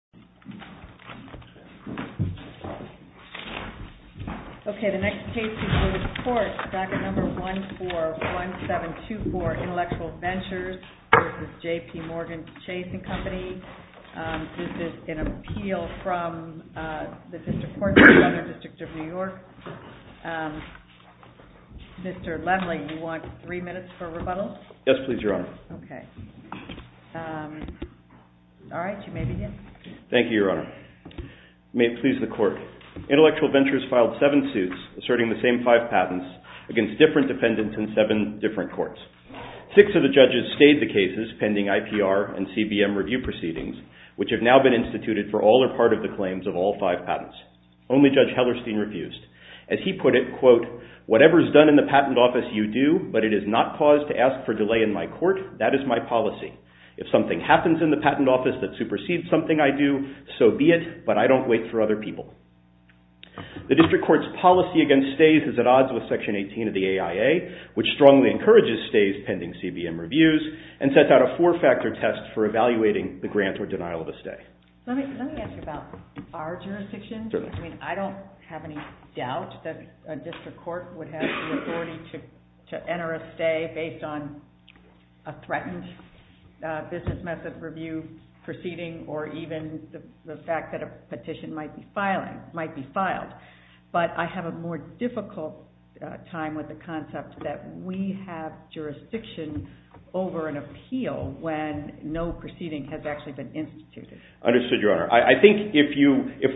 This is an appeal from the District of New York. Mr. Lendley, you want three minutes for rebuttal? Yes, please, Your Honor. Okay. All right, you may begin. Mr. Lendley, you want three minutes for rebuttal? Thank you, Your Honor. May it please the Court. Intellectual Ventures filed seven suits asserting the same five patents against different defendants in seven different courts. Six of the judges stayed the cases pending IPR and CBM review proceedings, which have now been instituted for all or part of the claims of all five patents. Only Judge Hellerstein refused. As he put it, quote, whatever is done in the patent office you do, but it is not cause to ask for delay in my court. That is my policy. If something happens in the patent office that supersedes something I do, so be it, but I don't wait for other people. The District Court's policy against stays is at odds with Section 18 of the AIA, which strongly encourages stays pending CBM reviews and sets out a four-factor test for evaluating the grant or denial of a stay. Let me ask you about our jurisdiction. Certainly. I mean, I don't have any doubt that a District Court would have the authority to enter a stay based on a threatened business method review proceeding or even the fact that a petition might be filed. But I have a more difficult time with the concept that we have jurisdiction over an appeal when no proceeding has actually been instituted. Understood, Your Honor. I think if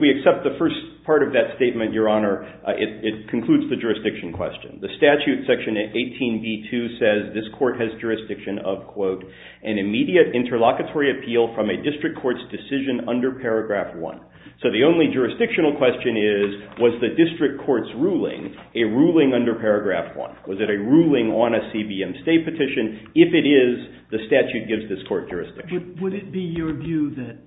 we accept the first part of that statement, Your Honor, it concludes the jurisdiction question. The statute, Section 18b2, says this court has jurisdiction of, quote, an immediate interlocutory appeal from a District Court's decision under Paragraph 1. So the only jurisdictional question is, was the District Court's ruling a ruling under Paragraph 1? Was it a ruling on a CBM stay petition? If it is, the statute gives this court jurisdiction. Would it be your view that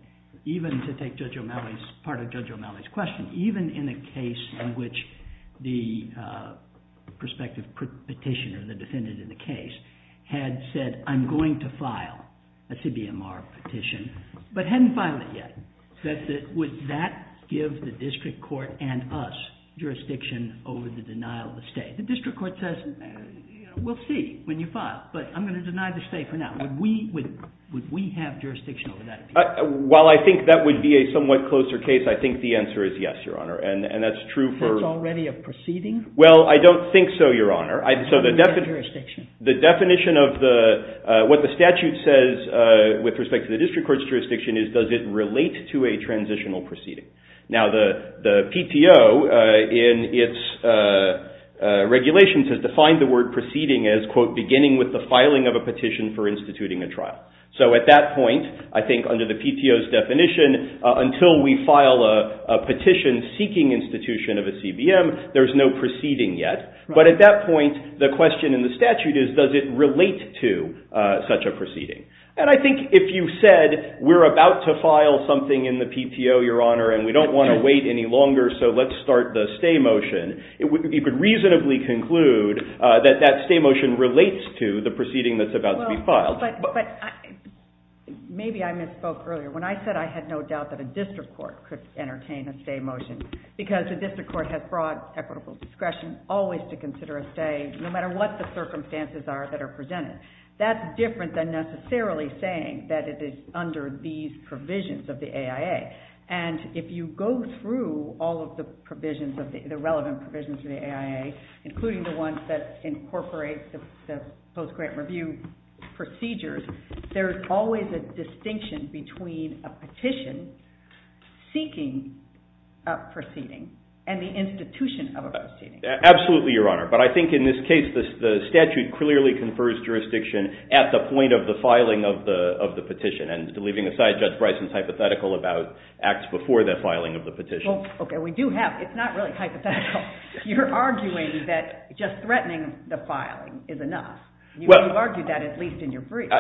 even to take Judge O'Malley's, pardon Judge O'Malley's question, even in a case in which the prospective petitioner, the defendant in the case, had said, I'm going to file a CBMR petition, but hadn't filed it yet, would that give the District Court and us jurisdiction over the denial of a stay? The District Court says, we'll see when you file, but I'm going to deny the stay for now. Would we have jurisdiction over that? While I think that would be a somewhat closer case, I think the answer is yes, Your Honor. And that's true for... That's already a matter. So the definition of what the statute says with respect to the District Court's jurisdiction is, does it relate to a transitional proceeding? Now the PTO in its regulations has defined the word proceeding as, quote, beginning with the filing of a petition for instituting a trial. So at that point, I think under the PTO's definition, until we file a petition seeking institution of a CBM, there's no proceeding yet. But at that point, the question in the statute is, does it relate to such a proceeding? And I think if you said, we're about to file something in the PTO, Your Honor, and we don't want to wait any longer, so let's start the stay motion, you could reasonably conclude that that stay motion relates to the proceeding that's about to be filed. But maybe I misspoke earlier. When I said I had no doubt that a District Court could entertain a stay motion, because the District Court has broad equitable discretion always to consider a stay, no matter what the circumstances are that are presented. That's different than necessarily saying that it is under these provisions of the AIA. And if you go through all of the relevant provisions of the AIA, including the ones that incorporate the post-grant review procedures, there's always a distinction between a petition seeking a proceeding and the institution of a proceeding. Absolutely, Your Honor. But I think in this case, the statute clearly confers jurisdiction at the point of the filing of the petition. And leaving aside Judge Bryson's hypothetical about acts before the filing of the petition. Okay, we do have, it's not really hypothetical. You're arguing that just threatening the filing is enough. You argued that at least in your brief.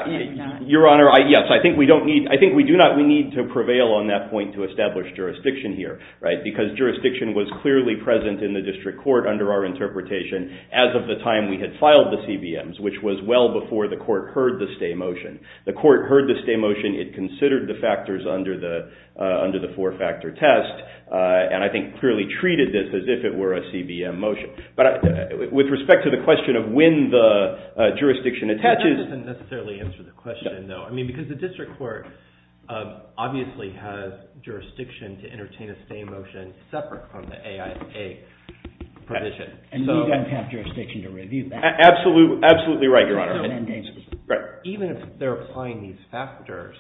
Your Honor, yes, I think we do not need to prevail on that point to establish jurisdiction here. Because jurisdiction was clearly present in the District Court under our interpretation as of the time we had filed the CBMs, which was well before the Court heard the stay motion. The Court heard the stay motion, it considered the factors under the four-factor test, and I think clearly treated this as if it were a CBM motion. But with respect to the question of when the jurisdiction attaches... That doesn't necessarily answer the question, though. I mean, because the District Court obviously has jurisdiction to entertain a stay motion separate from the AIA provision. And you don't have jurisdiction to review that. Absolutely, absolutely right, Your Honor. Even if they're applying these factors,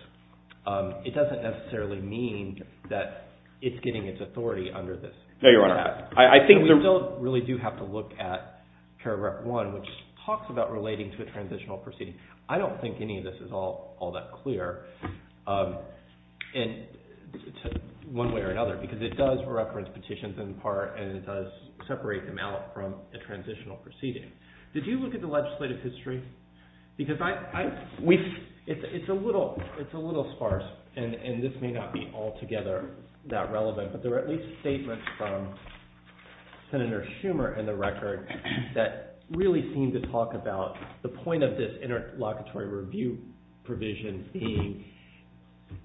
it doesn't necessarily mean that it's getting its authority under this statute. No, Your Honor, I think... But we still really do have to look at Paragraph 1, which talks about relating to a transitional proceeding. I don't think any of this is all that clear one way or another, because it does reference petitions in part, and it does separate them out from the transitional proceeding. Did you look at the legislative history? Because I... It's a little sparse, and this may not be altogether that relevant, but there are at least statements from Senator Schumer in the record that really seem to talk about the point of this interlocutory review provision being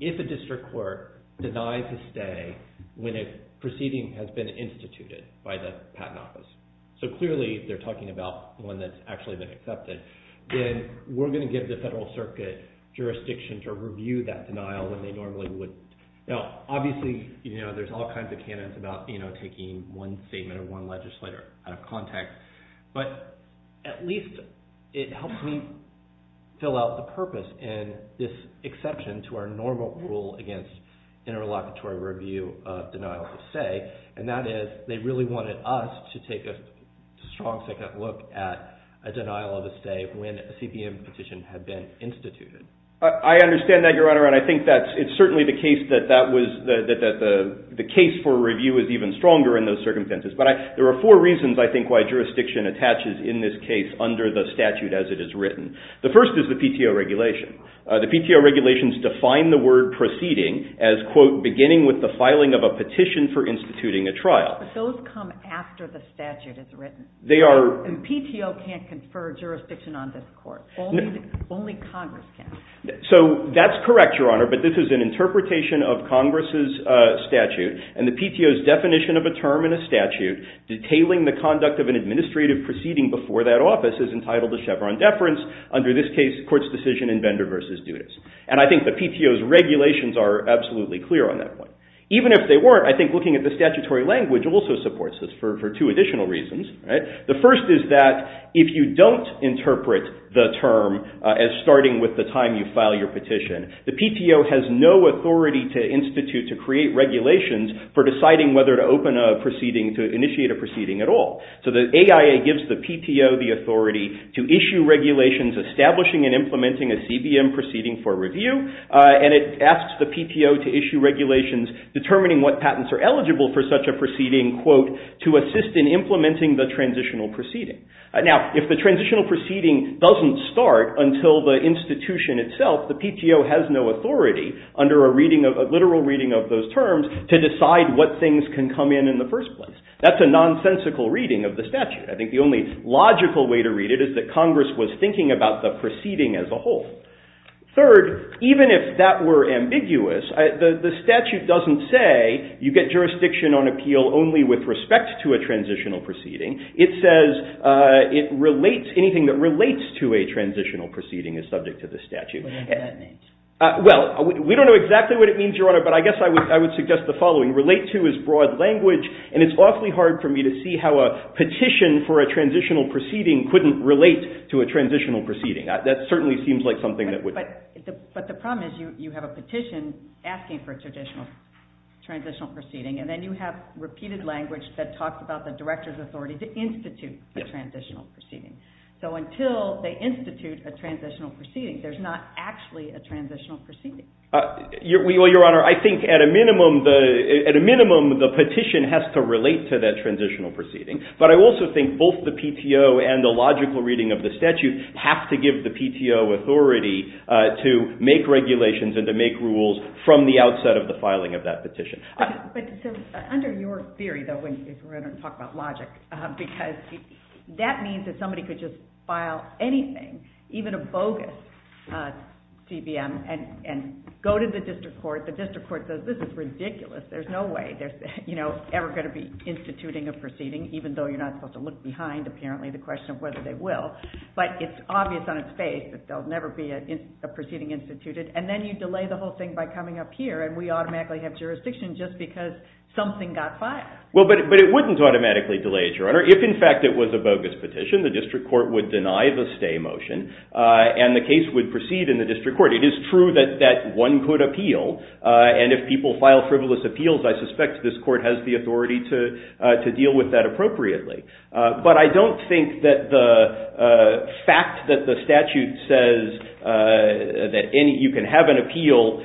if a District Court denies a stay when a proceeding has been instituted by the Patent Office. So clearly, they're talking about one that's actually been accepted. Then we're going to give the Federal Circuit jurisdiction to review that denial when they normally would. Now, obviously, there's all kinds of But at least it helps me fill out the purpose in this exception to our normal rule against interlocutory review of denial of stay, and that is they really wanted us to take a strong second look at a denial of a stay when a CPM petition had been instituted. I understand that, Your Honor, and I think that it's certainly the case that that was the case for review is even stronger in those circumstances. But there are four reasons, I think, why jurisdiction attaches in this case under the statute as it is written. The first is the PTO regulation. The PTO regulations define the word proceeding as, quote, beginning with the filing of a petition for instituting a trial. But those come after the statute is written. And PTO can't confer jurisdiction on this court. Only Congress can. So that's correct, Your Honor, but this is an interpretation of Congress's statute, and the PTO's term in a statute detailing the conduct of an administrative proceeding before that office is entitled to Chevron deference under this case, court's decision in Vendor v. Dudas. And I think the PTO's regulations are absolutely clear on that point. Even if they weren't, I think looking at the statutory language also supports this for two additional reasons. The first is that if you don't interpret the term as starting with the time you file your petition, the PTO has no authority to institute, to create regulations for deciding whether to open a proceeding, to initiate a proceeding at all. So the AIA gives the PTO the authority to issue regulations establishing and implementing a CBM proceeding for review, and it asks the PTO to issue regulations determining what patents are eligible for such a proceeding, quote, to assist in implementing the transitional proceeding. Now, if the transitional proceeding doesn't start until the institution itself, the PTO has no authority under a reading of literal reading of those terms to decide what things can come in in the first place. That's a nonsensical reading of the statute. I think the only logical way to read it is that Congress was thinking about the proceeding as a whole. Third, even if that were ambiguous, the statute doesn't say you get jurisdiction on appeal only with respect to a transitional proceeding. It says it relates, anything that relates to a transitional proceeding is subject to the statute. Well, we don't know exactly what it means, Your Honor, but I guess I would suggest the following. Relate to is broad language, and it's awfully hard for me to see how a petition for a transitional proceeding couldn't relate to a transitional proceeding. That certainly seems like something that would... But the problem is you have a petition asking for a transitional proceeding, and then you have repeated language that talks about the director's authority to institute a transitional proceeding. So until they institute a transitional proceeding, there's not actually a transitional proceeding. Well, Your Honor, I think at a minimum, the petition has to relate to that transitional proceeding. But I also think both the PTO and the logical reading of the statute have to give the PTO authority to make regulations and to make rules from the outset of the filing of that petition. But under your theory, though, when you talk about logic, because that means that somebody could just file anything, even a bogus TBM, and go to the district court. The district court says, this is ridiculous. There's no way they're ever going to be instituting a proceeding, even though you're not supposed to look behind, apparently, the question of whether they will. But it's obvious on its face that there'll never be a proceeding instituted. And then you delay the whole thing by coming up here, and we automatically have jurisdiction just because something got filed. Well, but it wouldn't automatically delay it, Your Honor. If, in fact, it was a stay motion, and the case would proceed in the district court, it is true that one could appeal. And if people file frivolous appeals, I suspect this court has the authority to deal with that appropriately. But I don't think that the fact that the statute says that you can have an appeal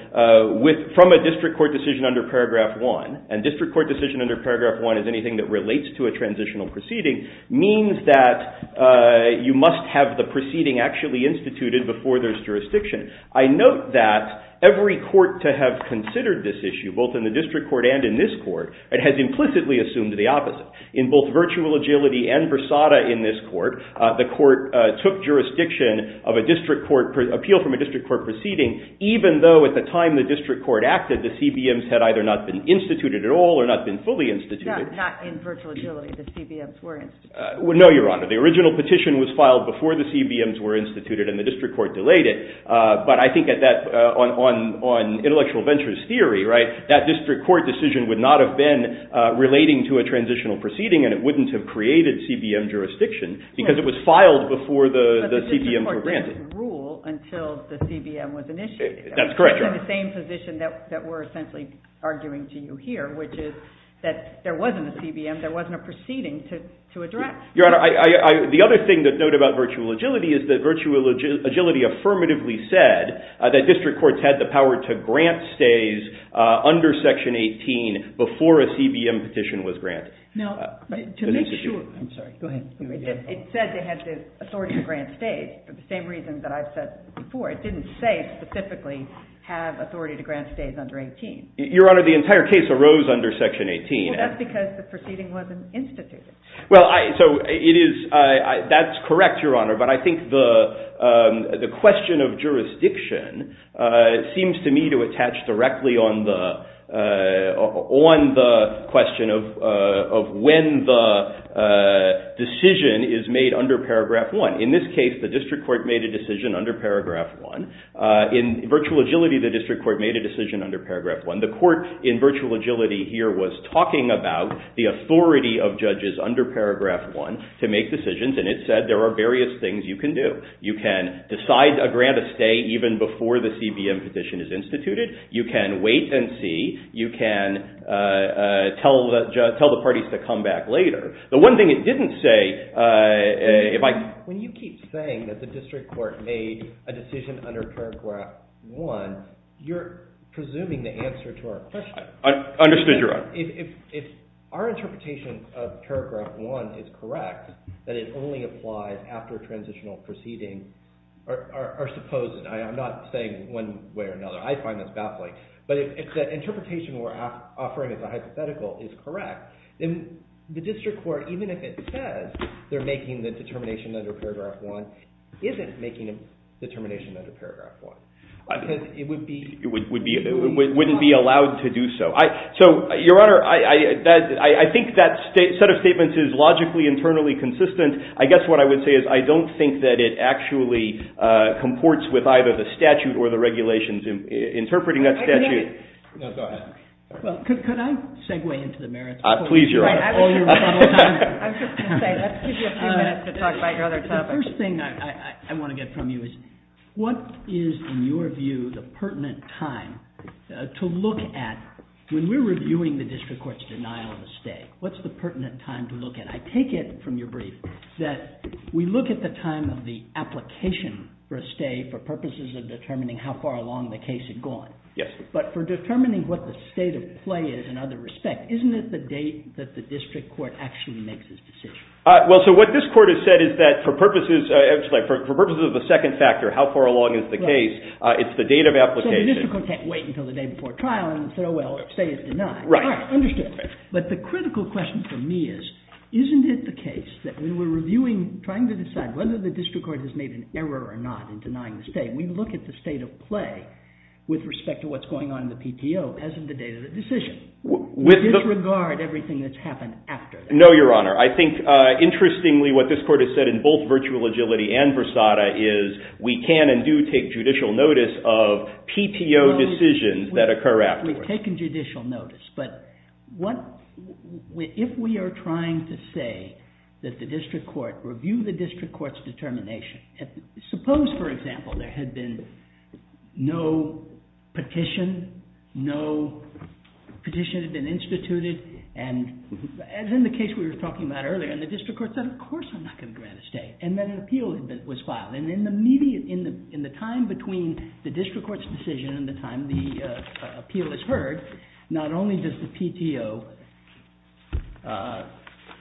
from a district court decision under paragraph one, and district court decision under paragraph one is anything that relates to a transitional proceeding, means that you must have the proceeding actually instituted before there's jurisdiction. I note that every court to have considered this issue, both in the district court and in this court, it has implicitly assumed the opposite. In both virtual agility and Versada in this court, the court took jurisdiction of a district court appeal from a district court proceeding even though, at the time the district court acted, the CBMs had either not been instituted at all or not been fully instituted. No, not in virtual agility. The CBMs were instituted. No, Your Honor. The original petition was filed before the CBMs were instituted and the district court delayed it. But I think that on intellectual ventures theory, that district court decision would not have been relating to a transitional proceeding, and it wouldn't have created CBM jurisdiction because it was filed before the CBMs were granted. But the district court didn't rule until the CBM was initiated. That's correct. It was in the same position that we're essentially arguing to you here, which is that there wasn't a transitional proceeding to address. Your Honor, the other thing to note about virtual agility is that virtual agility affirmatively said that district courts had the power to grant stays under Section 18 before a CBM petition was granted. It said they had the authority to grant stays for the same reason that I've said before. It didn't say specifically have authority to grant stays under 18. Your Honor, the entire case arose under Section 18. Well, that's because the proceeding wasn't instituted. That's correct, Your Honor. But I think the question of jurisdiction seems to me to attach directly on the question of when the decision is made under Paragraph 1. In this case, the district court made a decision under Paragraph 1. In virtual agility, the district court made a decision under Paragraph 1. The court in virtual agility here was talking about the authority of judges under Paragraph 1 to make decisions, and it said there are various things you can do. You can decide to grant a stay even before the CBM petition is instituted. You can wait and see. You can tell the parties to come back later. The one thing it didn't say... When you keep saying that the district court made a decision under Paragraph 1, you're presuming the answer to our question. Understood, Your Honor. If our interpretation of Paragraph 1 is correct, that it only applies after transitional proceedings are supposed to. I'm not saying one way or another. I find this baffling. But if the interpretation we're offering as a hypothetical is correct, then the district court, even if it says they're making the determination under Paragraph 1, isn't making a determination under Paragraph 1. It wouldn't be allowed to do so. Your Honor, I think that set of statements is logically, internally consistent. I guess what I would say is I don't think that it actually comports with either the statute or the regulations interpreting that statute. Could I segue into the merits? Please, Your Honor. The first thing I want to get from you is what is, in your view, the pertinent time to look at... When we're reviewing the district court's denial of a stay, what's the pertinent time to look at? I take it from your brief that we look at the time of the application for a stay for purposes of determining how far along the case had gone. But for determining what the state of play is in other respects, isn't it the date that the district court actually makes its decision? What this court has said is that for purposes of the second factor, how far along is the case, it's the date of application. So the district court can't wait until the day before trial and say, well, stay is denied. Right. Understood. But the critical question for me is, isn't it the case that when we're reviewing, trying to decide whether the district court has made an error or not in denying the stay, we look at the state of play with respect to what's going on in the PTO as of the date of the decision. We disregard everything that's happened after that. No, Your Honor. I think interestingly what this court has said in both Virtual Agility and Versada is we can and do take judicial notice of PTO decisions that occur afterwards. We've taken judicial notice. But what if we are trying to say that the district court, review the district court's determination. Suppose, for example, there had been no petition, no petition had been instituted. And as in the case we were talking about earlier, and the district court said, of course I'm not going to grant a stay. And then an appeal was filed. And in the time between the district court's decision and the time the appeal is heard, not only does the PTO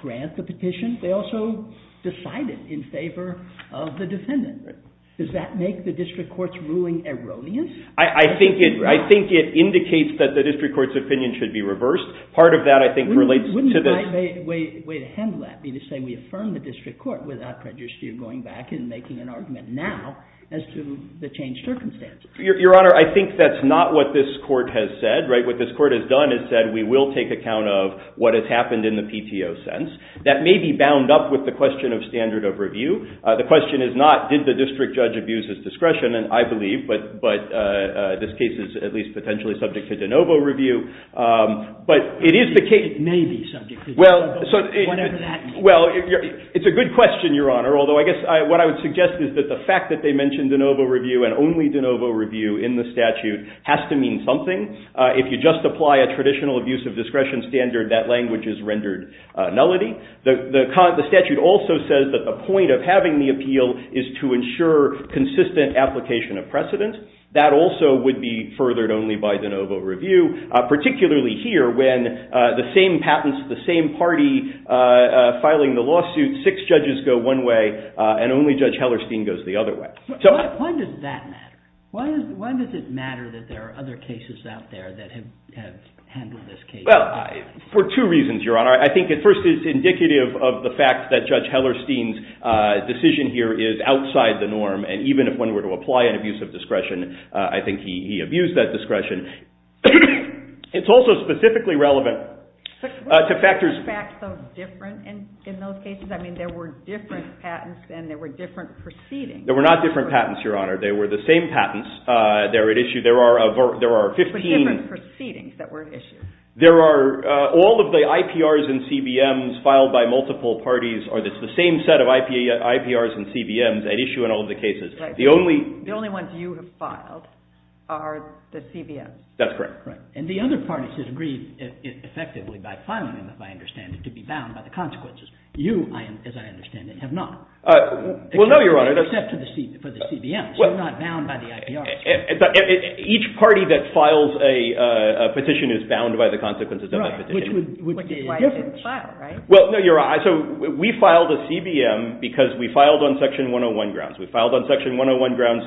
grant the petition, they also decide it in favor of the defendant. Does that make the district court's ruling erroneous? I think it indicates that the district court's opinion should be reversed. Part of that I think relates to this. Wouldn't the right way to handle that be to say we affirm the district court without prejudice to you going back and making an argument now as to the changed circumstances? Your Honor, I think that's not what this court has said. What this court has done is said we will take account of what has happened in the PTO sense. That may be bound up with the question of standard of review. The question is not did the district judge abuse his discretion, and I believe, but this case is at least potentially subject to de novo review. It may be subject to de novo, whatever that means. It's a good question, Your Honor, although I guess what I would suggest is that the fact that they mentioned de novo review and only de novo review in the statute has to mean something. If you just apply a traditional abuse of discretion standard, that language is rendered nullity. The statute also says that the point of having the appeal is to ensure consistent application of precedent. That also would be furthered only by de novo review. Particularly here when the same patents, the same party filing the lawsuit, six judges go one way and only Judge Hellerstein goes the other way. Why does that matter? Why does it matter that there are other cases out there that have handled this case? For two reasons, Your Honor. I think at first it's indicative of the fact that Judge Hellerstein's decision here is outside the norm and even if one were to apply an abuse of discretion, I think he abused that It's also specifically relevant to factors What makes the facts so different in those cases? I mean there were different patents and there were different proceedings. There were not different patents, Your Honor. They were the same patents that were at issue. There are 15 All of the IPRs and CBMs filed by multiple parties are the same set of IPRs and CBMs at issue in all of the cases. The only ones you have filed are the CBMs. That's correct. And the other parties have agreed effectively by filing them, if I understand it, to be bound by the consequences You, as I understand it, have not. Well, no, Your Honor. Except for the CBMs. You're not bound by the IPRs. Each party that files a petition is bound by the consequences of that petition Which is why it didn't file, right? Well, no, Your Honor. So we filed a CBM because we filed on section 101 grounds. We filed on section 101 grounds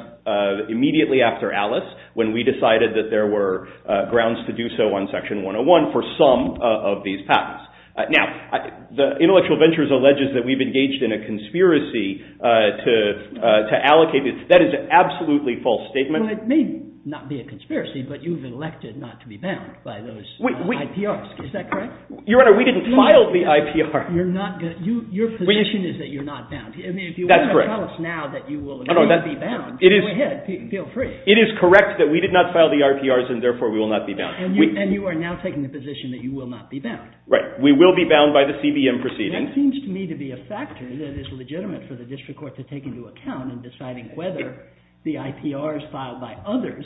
immediately after Alice when we decided that there were grounds to do so on section 101 for some of these patents. Now, the Intellectual Ventures alleges that we've engaged in a conspiracy to allocate. That is an absolutely false statement. Well, it may not be a conspiracy, but you've elected not to be bound by those IPRs. Is that correct? Your Honor, we didn't file the IPR. Your position is that you're not bound. That's correct. Tell us now that you will not be bound. Go ahead. Feel free. It is correct that we did not file the IPRs and therefore we will not be bound. And you are now taking the position that you will not be bound. Right. We will be bound by the CBM proceeding. That seems to me to be a factor that is legitimate for the district court to take into account in deciding whether the IPRs filed by others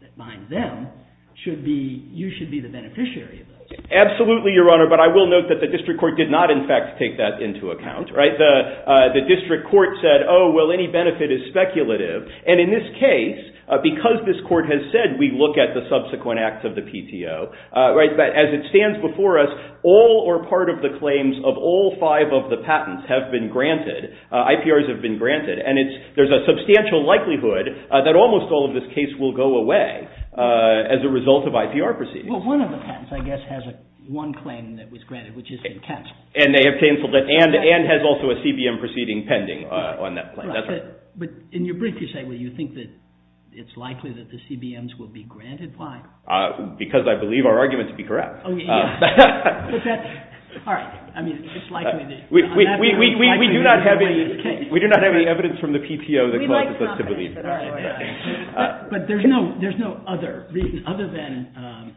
that bind them, you should be the beneficiary of those. Absolutely, Your Honor, but I will note that the district court did not, in fact, take that into account. The district court said, oh, well, any benefit is speculative. And in this case, because this court has said we look at the subsequent acts of the PTO, as it stands before us, all or part of the claims of all five of the patents have been granted, IPRs have been granted, and there's a substantial likelihood that almost all of this case will go away as a result of IPR proceedings. Well, one of the patents, I guess, has one claim that was granted, which has been cancelled. And they have cancelled it, and has also a CBM proceeding pending on that claim. But in your brief, you say, well, you think that it's likely that the CBMs will be granted? Why? Because I believe our arguments would be correct. All right. I mean, it's likely. We do not have any evidence from the PTO that causes us to believe that. But there's no other reason other than...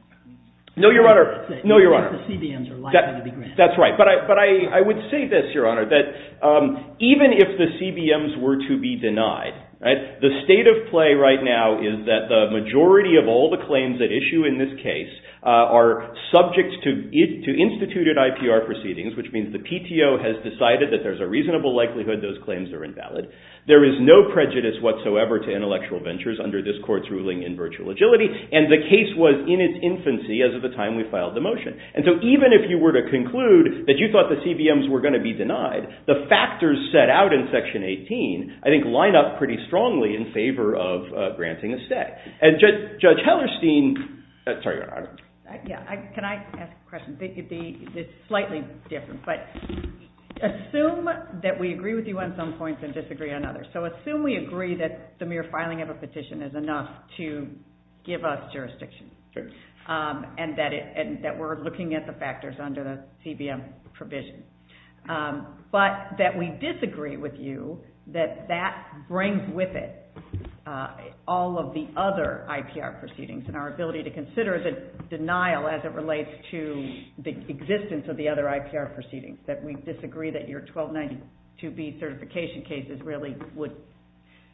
No, Your Honor. ...that the CBMs are likely to be granted. That's right. But I would say this, Your Honor, that even if the CBMs were to be denied, the state of play right now is that the majority of all the claims at issue in this case are subject to instituted IPR proceedings, which means the PTO has decided that there's a reasonable likelihood those claims are invalid. There is no prejudice whatsoever to intellectual ventures under this court's ruling in virtual agility. And the case was in its infancy as of the time we filed the motion. And so even if you were to conclude that you thought the CBMs were going to be denied, the factors set out in Section 18, I think, line up pretty strongly in favor of granting a stay. And Judge Hellerstein... Sorry, Your Honor. Yeah. Can I ask a question? It's slightly different. But assume that we agree with you on some points and disagree on others. So assume we agree that the mere filing of a petition is enough to give us jurisdiction and that we're looking at the factors under the CBM provision. But that we disagree with you that that brings with it all of the other IPR proceedings and our ability to consider the denial as it relates to the existence of the other IPR proceedings, that we disagree that your 1292B certification cases really would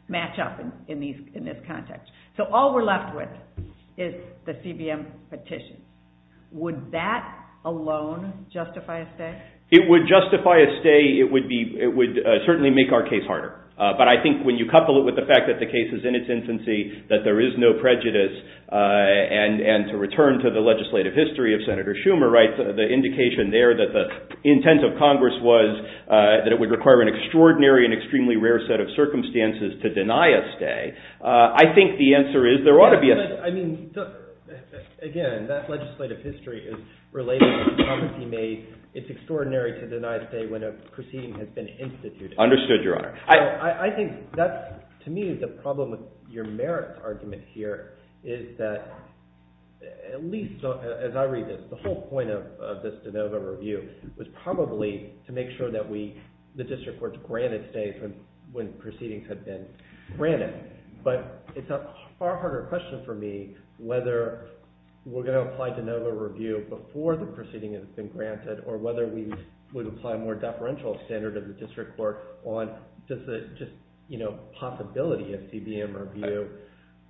match up in this context. So all we're left with is the CBM petition. Would that alone justify a stay? It would justify a stay. It would certainly make our case harder. But I think when you couple it with the fact that the case is in its infancy, that there is no prejudice, and to return to the legislative history of Senator Schumer, the indication there that the intent of Congress was that it would require an extraordinary and extremely rare set of cases, I think the answer is there ought to be a stay. Again, that legislative history is related to the comments he made. It's extraordinary to deny a stay when a proceeding has been instituted. Understood, Your Honor. I think that, to me, the problem with your merits argument here is that at least as I read this, the whole point of this de novo review was probably to make sure that the district courts granted stays when the proceedings had been granted. But it's a far harder question for me whether we're going to apply de novo review before the proceeding has been granted or whether we would apply a more deferential standard of the district court on just the possibility of CBM review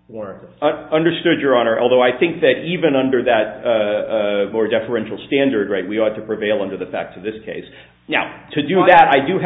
warranted. Understood, Your Honor. Although I think that even under that more deferential standard, we ought to prevail under the fact of this case. Now, to do that, I do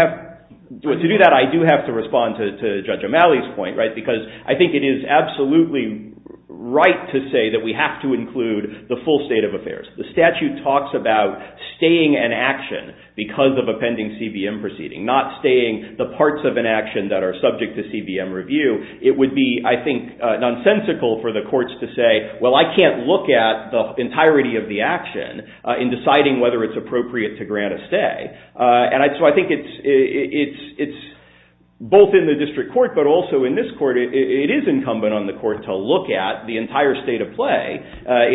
have to respond to Judge O'Malley's point, because I think it is absolutely right to say that we have to include the full state of affairs. The statute talks about staying an action because of a pending CBM proceeding, not staying the parts of an action that are subject to CBM review. It would be, I think, nonsensical for the courts to say, well, I can't look at the entirety of the action in deciding whether it's appropriate to grant a stay. So I think it's both in the district court, but also in this court, it is incumbent on the court to look at the entire state of play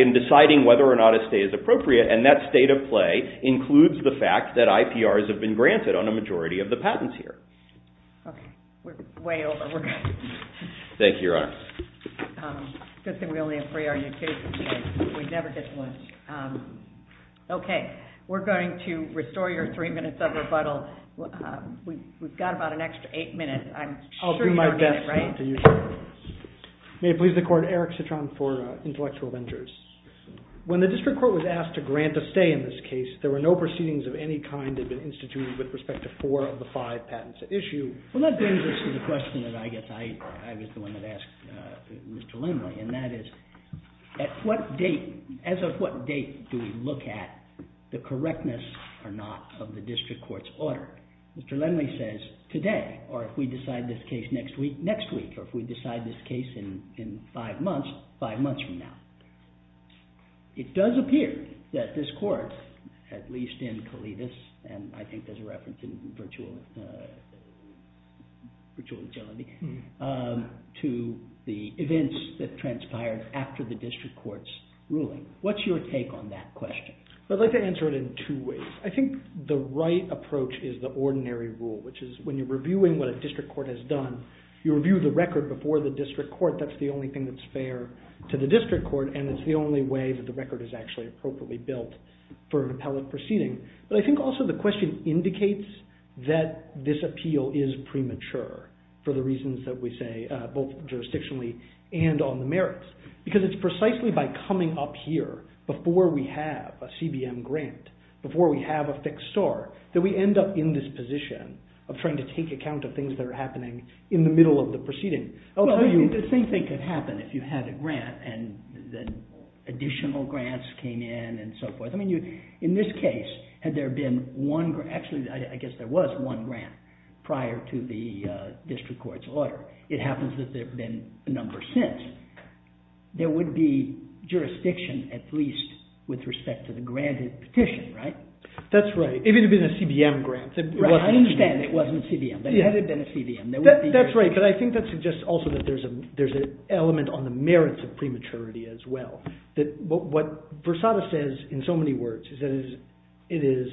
in deciding whether or not a stay is appropriate. And that state of play includes the fact that IPRs have been granted on a majority of the patents here. Okay. We're way over. We're good. Thank you, Your Honor. Good thing we only have three on YouTube. We never get much. Okay. We're going to restore your three minutes of rebuttal. We've got about an extra eight minutes. I'll do my best not to use it. May it please the Court, Eric Citron for Intellectual Ventures. When the district court was asked to grant a stay in this case, there were no proceedings of any kind that had been instituted with respect to four of the five patents at issue. Well, that brings us to the question that I guess I was the one that asked Mr. Lindley, and that is as of what date do we look at the correctness or not of the district court's order? Mr. Lindley says today or if we decide this case next week, next week, or if we decide this case in five months, five months from now. It does appear that this court, at least in Calidas, and I think there's a reference in virtual agility, to the events that transpired after the district court's ruling. What's your take on that question? I'd like to answer it in two ways. I think the right approach is the ordinary rule, which is when you're reviewing what a district court has done, you review the record before the district court. That's the only thing that's fair to the district court and it's the only way that the record is actually appropriately built for an appellate proceeding. But I think also the question indicates that this appeal is premature for the reasons that we say, both jurisdictionally and on the merits. Because it's precisely by coming up here before we have a CBM grant, before we have a fixed star, that we end up in this position of trying to take account of things that are happening in the middle of the proceeding. I'll tell you, the same thing could happen if you had a grant and additional grants came in and so forth. In this case, had there been one grant, actually I guess there was one grant prior to the district court's order. It happens that there have been a number since. There would be jurisdiction at least with respect to the granted petition, right? That's right. If it had been a CBM grant. I understand it wasn't CBM, but had it been a CBM, there would be jurisdiction. That's right, but I think that suggests also that there's an element on the merits of prematurity as well. What Versada says in so many words is that it is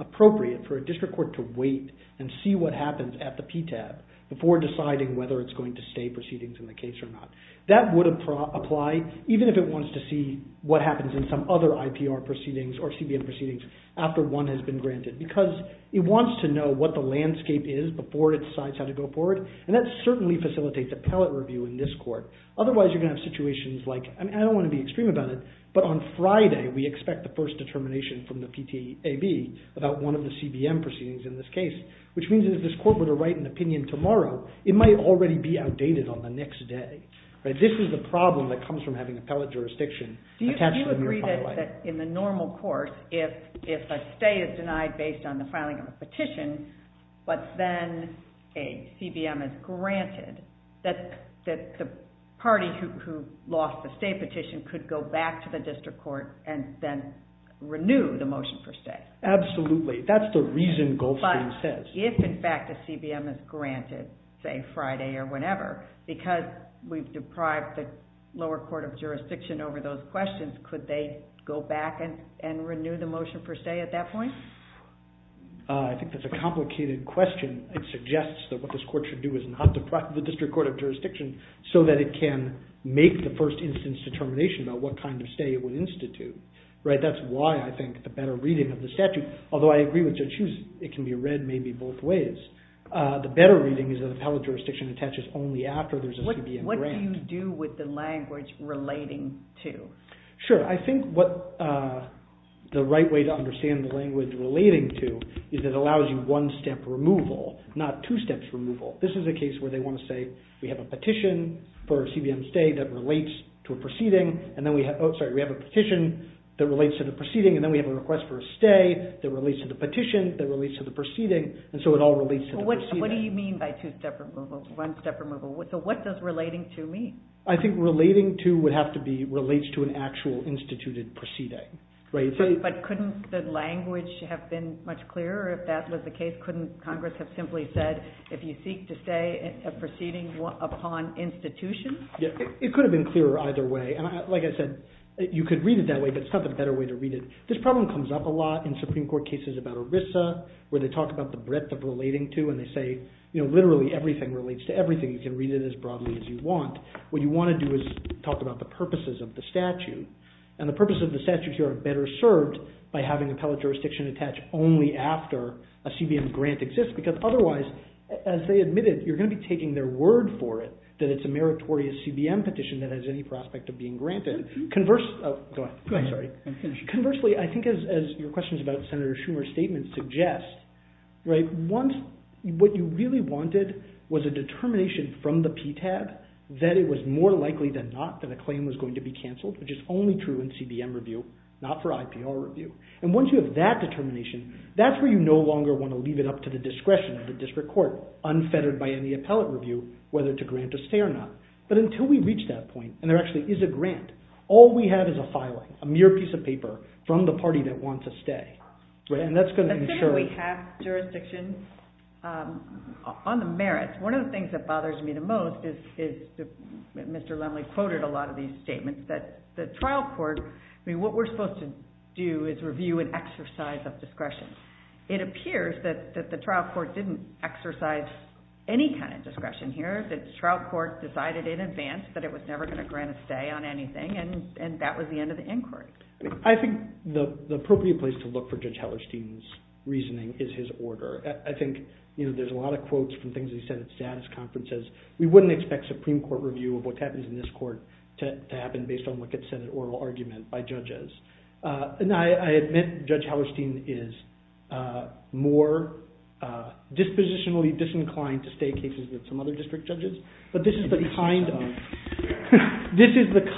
appropriate for a district court to wait and see what happens at the PTAB before deciding whether it's going to do PTA proceedings in the case or not. That would apply even if it wants to see what happens in some other IPR proceedings or CBM proceedings after one has been granted, because it wants to know what the landscape is before it decides how to go forward, and that certainly facilitates appellate review in this court. Otherwise, you're going to have situations like, I don't want to be extreme about it, but on Friday, we expect the first determination from the PTAB about one of the CBM proceedings in this case, which means that if this court were to write an opinion tomorrow, it might already be outdated on the next day. This is the problem that comes from having appellate jurisdiction attached to the mere filing. Do you agree that in the normal court, if a stay is denied based on the filing of a petition, but then a CBM is granted, that the party who lost the stay petition could go back to the district court and then renew the motion for stay? Absolutely. That's the reason Goldstein says. If, in fact, a CBM is granted, say Friday or whenever, because we've deprived the lower court of jurisdiction over those questions, could they go back and renew the motion for stay at that point? I think that's a complicated question. It suggests that what this court should do is not deprive the district court of jurisdiction so that it can make the first instance determination about what kind of stay it would institute. That's why I think the better reading of the statute, although I agree with Judge Hughes, it can be read maybe both ways, the better reading is that appellate jurisdiction attaches only after there's a CBM grant. What do you do with the language relating to? Sure. I think what the right way to understand the language relating to is that it allows you one-step removal, not two-steps removal. This is a case where they want to say we have a petition for a CBM stay that relates to a proceeding and then we have a petition that relates to the proceeding and then we have a request for a stay that relates to the petition, that relates to the proceeding, and so it all relates to the proceeding. What do you mean by two-step removal, one-step removal? So what does relating to mean? I think relating to would have to be relates to an actual instituted proceeding. But couldn't the language have been much clearer if that was the case? Couldn't Congress have simply said if you seek to stay a proceeding upon institution? It could have been clearer either way. Like I said, you could read it that way but it's not the better way to read it. This problem comes up a lot in Supreme Court cases about ERISA where they talk about the breadth of relating to and they say literally everything relates to everything. You can read it as broadly as you want. What you want to do is talk about the purposes of the statute. And the purposes of the statute here are better served by having appellate jurisdiction attached only after a CBM grant exists because otherwise, as they admitted, you're going to be taking their word for it that it's a meritorious CBM petition that has any prospect of being granted. Conversely, I think as your questions about Senator Schumer's statement suggest, what you really wanted was a determination from the PTAB that it was more likely than not that a claim was going to be cancelled, which is only true in CBM review, not for IPR review. And once you have that determination, that's where you no longer want to leave it up to the discretion of the district court unfettered by any appellate review whether to grant a stay or not. But until we reach that point, and there actually is a grant, all we have is a filing, a mere piece of paper from the party that wants a stay. And that's going to ensure... Let's say that we have jurisdiction on the merits. One of the things that bothers me the most is, Mr. Lumley quoted a lot of these statements, that the trial court, what we're supposed to do is review and exercise of discretion. It appears that the trial court didn't exercise any kind of discretion here. The trial court decided in advance that it was never going to grant a stay on anything and that was the end of the inquiry. I think the appropriate place to look for Judge Hallerstein's reasoning is his order. I think there's a lot of quotes from things he said at status conferences. We wouldn't expect Supreme Court review of what happens in this court to happen based on what gets said in oral argument by judges. And I admit Judge Hallerstein is more dispositionally disinclined to stay than most judges. But this is the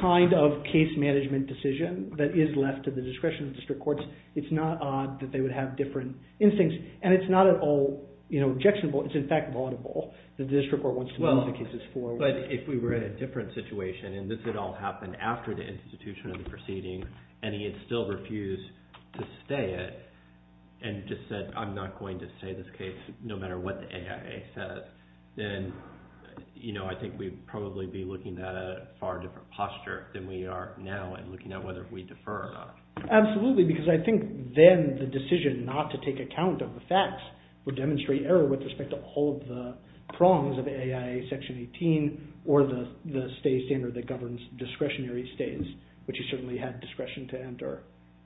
kind of case management decision that is left to the discretion of the district courts. It's not odd that they would have different instincts. And it's not at all objectionable. It's in fact vulnerable that the district court wants to move the cases forward. But if we were in a different situation and this had all happened after the institution of the proceeding and he had still refused to stay it and just said I'm not going to stay this case no matter what the I think we'd probably be looking at a far different posture than we are now in looking at whether we defer or not. Absolutely because I think then the decision not to take account of the facts would demonstrate error with respect to all of the prongs of AIA section 18 or the stay standard that governs discretionary stays which certainly had discretion to enter.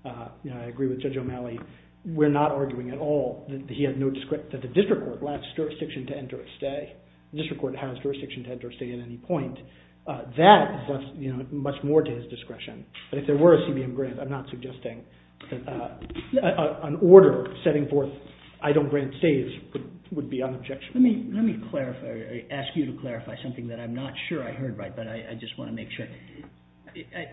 I agree with Judge O'Malley. We're not arguing at all that the district court has jurisdiction to enter a stay. The district court has jurisdiction to enter a stay at any point. That is much more to his discretion. But if there were a CBM grant I'm not suggesting an order setting forth I don't grant stays would be unobjectionable. Let me ask you to clarify something that I'm not sure I heard right but I just want to make sure.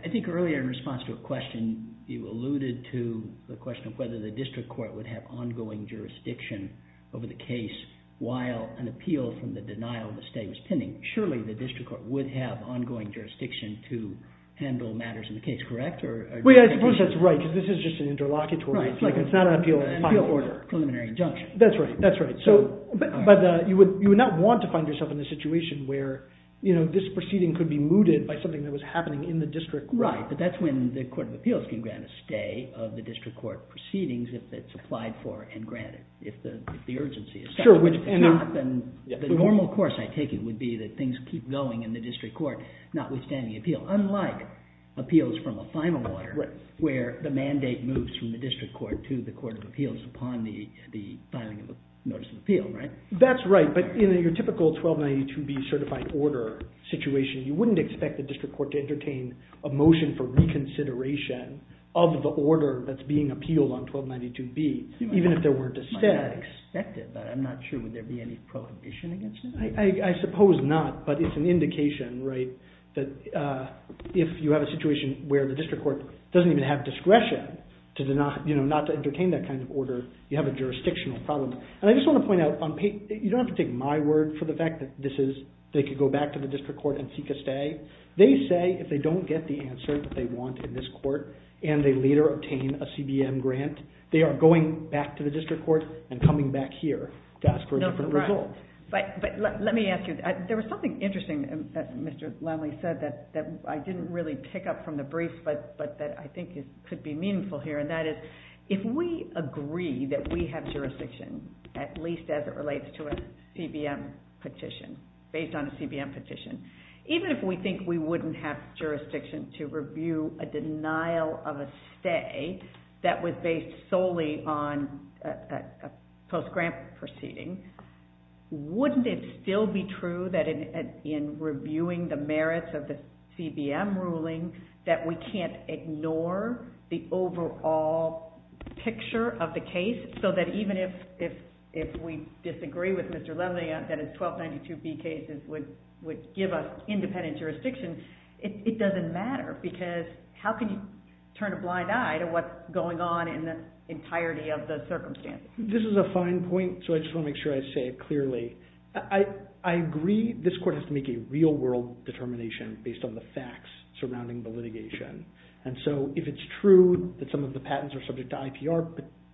I think earlier in response to a question you alluded to the question of whether the district court would have ongoing jurisdiction over the case while an appeal from the denial of the stay was pending. Surely the district court would have ongoing jurisdiction to handle matters in the case, correct? I suppose that's right because this is just an interlocutory. It's not an appeal order. Preliminary injunction. That's right. But you would not want to find yourself in the situation where this proceeding could be mooted by something that was happening in the district court. Right, but that's when the court of appeals can grant a stay of the district court proceedings if it's applied for and granted if the urgency is set. The normal course I take it would be that things keep going in the district court notwithstanding the appeal. Unlike appeals from a final order where the mandate moves from the district court to the court of appeals upon the filing of a notice of appeal, right? That's right. But in your typical 1292B certified order situation you wouldn't expect the district court to entertain a motion for reconsideration of the order that's being appealed on 1292B even if there were dissent. I might not expect it, but I'm not sure would there be any prohibition against it. I suppose not, but it's an indication, right, that if you have a situation where the district court doesn't even have discretion not to entertain that kind of order, you have a jurisdictional problem. And I just want to point out, you don't have to take my word for the fact that this is they could go back to the district court and seek a stay. They say if they don't get the stay and they later obtain a CBM grant, they are going back to the district court and coming back here to ask for a different result. But let me ask you, there was something interesting that Mr. Lemley said that I didn't really pick up from the brief, but that I think could be meaningful here, and that is if we agree that we have jurisdiction at least as it relates to a CBM petition, based on a CBM petition, even if we think we wouldn't have jurisdiction to review a denial of a stay that was based solely on a post-grant proceeding, wouldn't it still be true that in reviewing the merits of the CBM ruling that we can't ignore the overall picture of the case so that even if we disagree with Mr. Lemley that his 1292B case would give us independent jurisdiction, it doesn't matter because how can you turn a blind eye to what's going on in the entirety of the circumstances? This is a fine point, so I just want to make sure I say it clearly. I agree this court has to make a real world determination based on the facts surrounding the litigation, and so if it's true that some of the patents are subject to IPR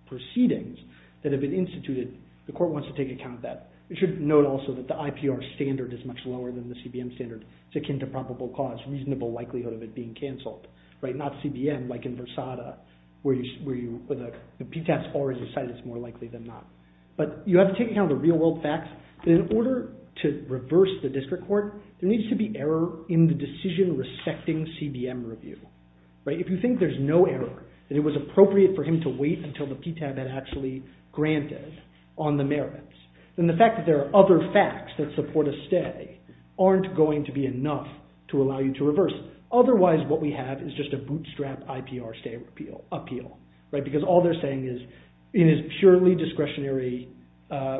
proceedings that have been instituted, the court wants to take account of that. It should note also that the IPR standard is much lower than the CBM standard. It's akin to probable cause, reasonable likelihood of it being canceled. Not CBM, like in Versada, where the PTAS already decided it's more likely than not. But you have to take account of the real world facts. In order to reverse the district court, there needs to be error in the decision respecting CBM review. If you think there's no error, that it was appropriate for him to wait until the PTAS had actually granted on the merits, then the fact that there are other facts that support a stay aren't going to be enough to allow you to reverse. Otherwise, what we have is just a bootstrap IPR stay appeal. Because all they're saying is, in his purely discretionary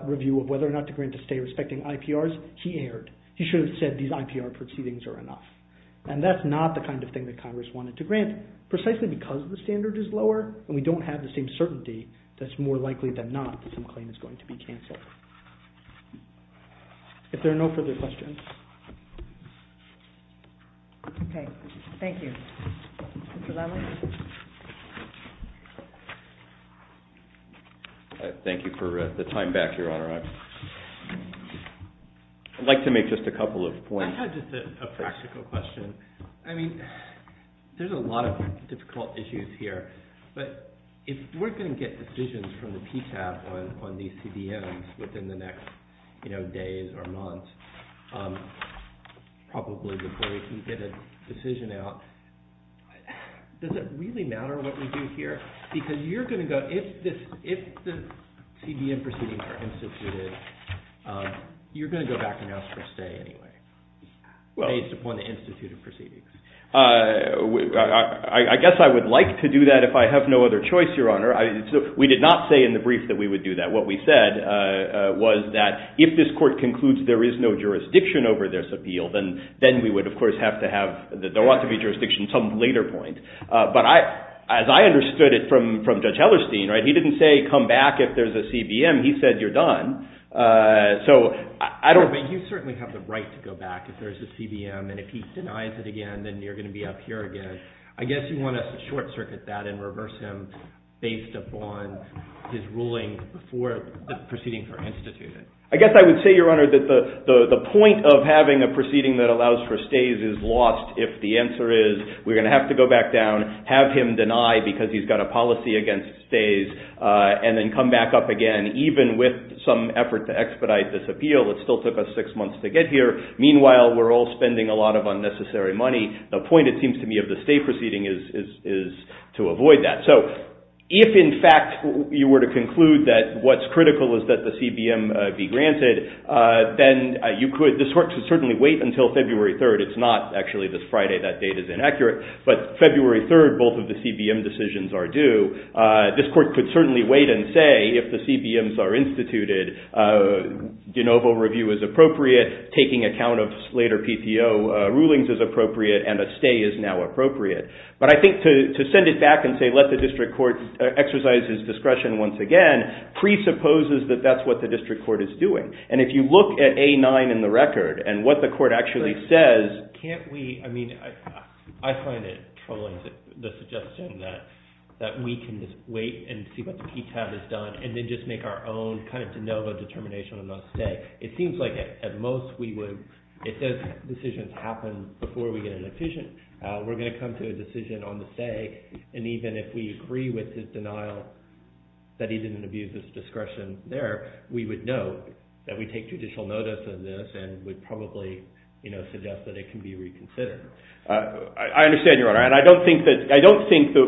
review of whether or not to grant a stay respecting IPRs, he erred. He should have said these IPR proceedings are enough. That's not the kind of thing that Congress wanted to grant, precisely because the standard is lower and we don't have the same certainty that it's more likely than not that some claim is going to be canceled. If there are no further questions. Okay. Thank you. Mr. Lively? Thank you for the time back, Your Honor. I'd like to make just a couple of points. I have just a practical question. I mean, there's a lot of difficult issues here, but if we're going to get decisions from the PCAP on these CDMs within the next days or months, probably before we can get a decision out, does it really matter what we do here? Because if the CDM proceedings are instituted, you're going to go back and ask for a stay anyway, based upon the instituted proceedings. I guess I would like to do that if I have no other choice, Your Honor. We did not say in the brief that we would do that. What we said was that if this Court concludes there is no jurisdiction over this appeal, then we would, of course, have to have, there ought to be jurisdiction at some later point. But as I understood it from Judge Hellerstein, he didn't say come back if there's a CBM. He said you're done. You certainly have the right to go back if there's a CBM, and if he denies it again, then you're going to be up here again. I guess you want to short-circuit that and reverse him based upon his ruling before the proceedings are instituted. I guess I would say, Your Honor, that the point of having a proceeding that allows for stays is lost if the answer is we're going to have to go back down, have him deny because he's got a policy against stays, and then come back up again, even with some effort to expedite this appeal. It still took us six months to get here. Meanwhile, we're all spending a lot of unnecessary money. The point, it seems to me, of the stay proceeding is to avoid that. If, in fact, you were to conclude that what's critical is that the CBM be granted, then you could, this Court could certainly wait until February 3rd. It's not actually this Friday. That date is inaccurate. But February 3rd, both of the CBM decisions are due. This Court could certainly wait and say if the CBMs are instituted, de novo review is appropriate, taking account of later PTO rulings is appropriate, and a stay is now appropriate. But I think to send it back and say let the District Court exercise his discretion once again presupposes that that's what the District Court is doing. And if you look at A-9 in the record and what the Court actually says, can't we I mean, I find it troubling, the suggestion that we can just wait and see what the PTAB has done and then just make our own kind of de novo determination on that stay. It seems like at most we would, if those decisions happen before we get an efficient we're going to come to a decision on the stay, and even if we agree with his denial that he didn't abuse his discretion there, we would know that we take judicial notice of this and would probably suggest that it can be reconsidered. I understand, Your Honor. I don't think that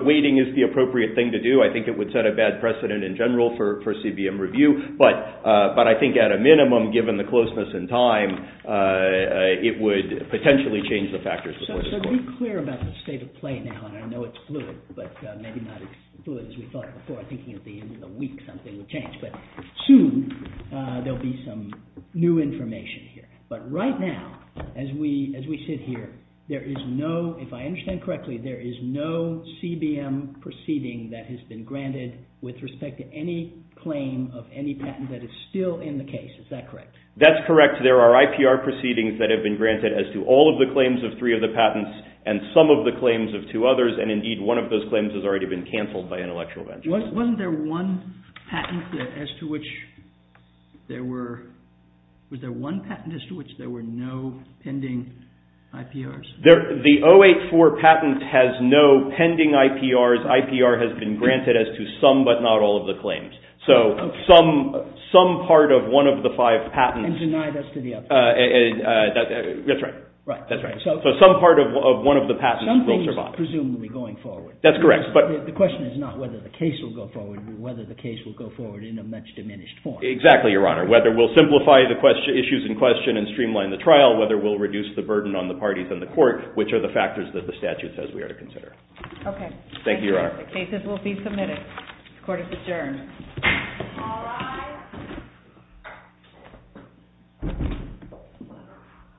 waiting is the appropriate thing to do. I think it would set a bad precedent in general for CBM review. But I think at a later time it would potentially change the factors. So be clear about the state of play now. I know it's fluid, but maybe not as fluid as we thought before. I'm thinking at the end of the week something would change. But soon there will be some new information here. But right now as we sit here, there is no, if I understand correctly, there is no CBM proceeding that has been granted with respect to any claim of any patent that is still in the case. Is that correct? That's correct. There are IPR proceedings that have been granted as to all of the claims of three of the patents and some of the claims of two others, and indeed one of those claims has already been canceled by an intellectual venture. Wasn't there one patent as to which there were no pending IPRs? The 084 patent has no pending IPRs. IPR has been granted as to some but not all of the claims. So some part of one of the five patents Some part of one of the patents will survive. The question is not whether the case will go forward, but whether the case will go forward in a much diminished form. Exactly, Your Honor. Whether we'll simplify the issues in question and streamline the trial, whether we'll reduce the burden on the parties and the court, which are the factors that determine whether the cases will be submitted. The court is adjourned.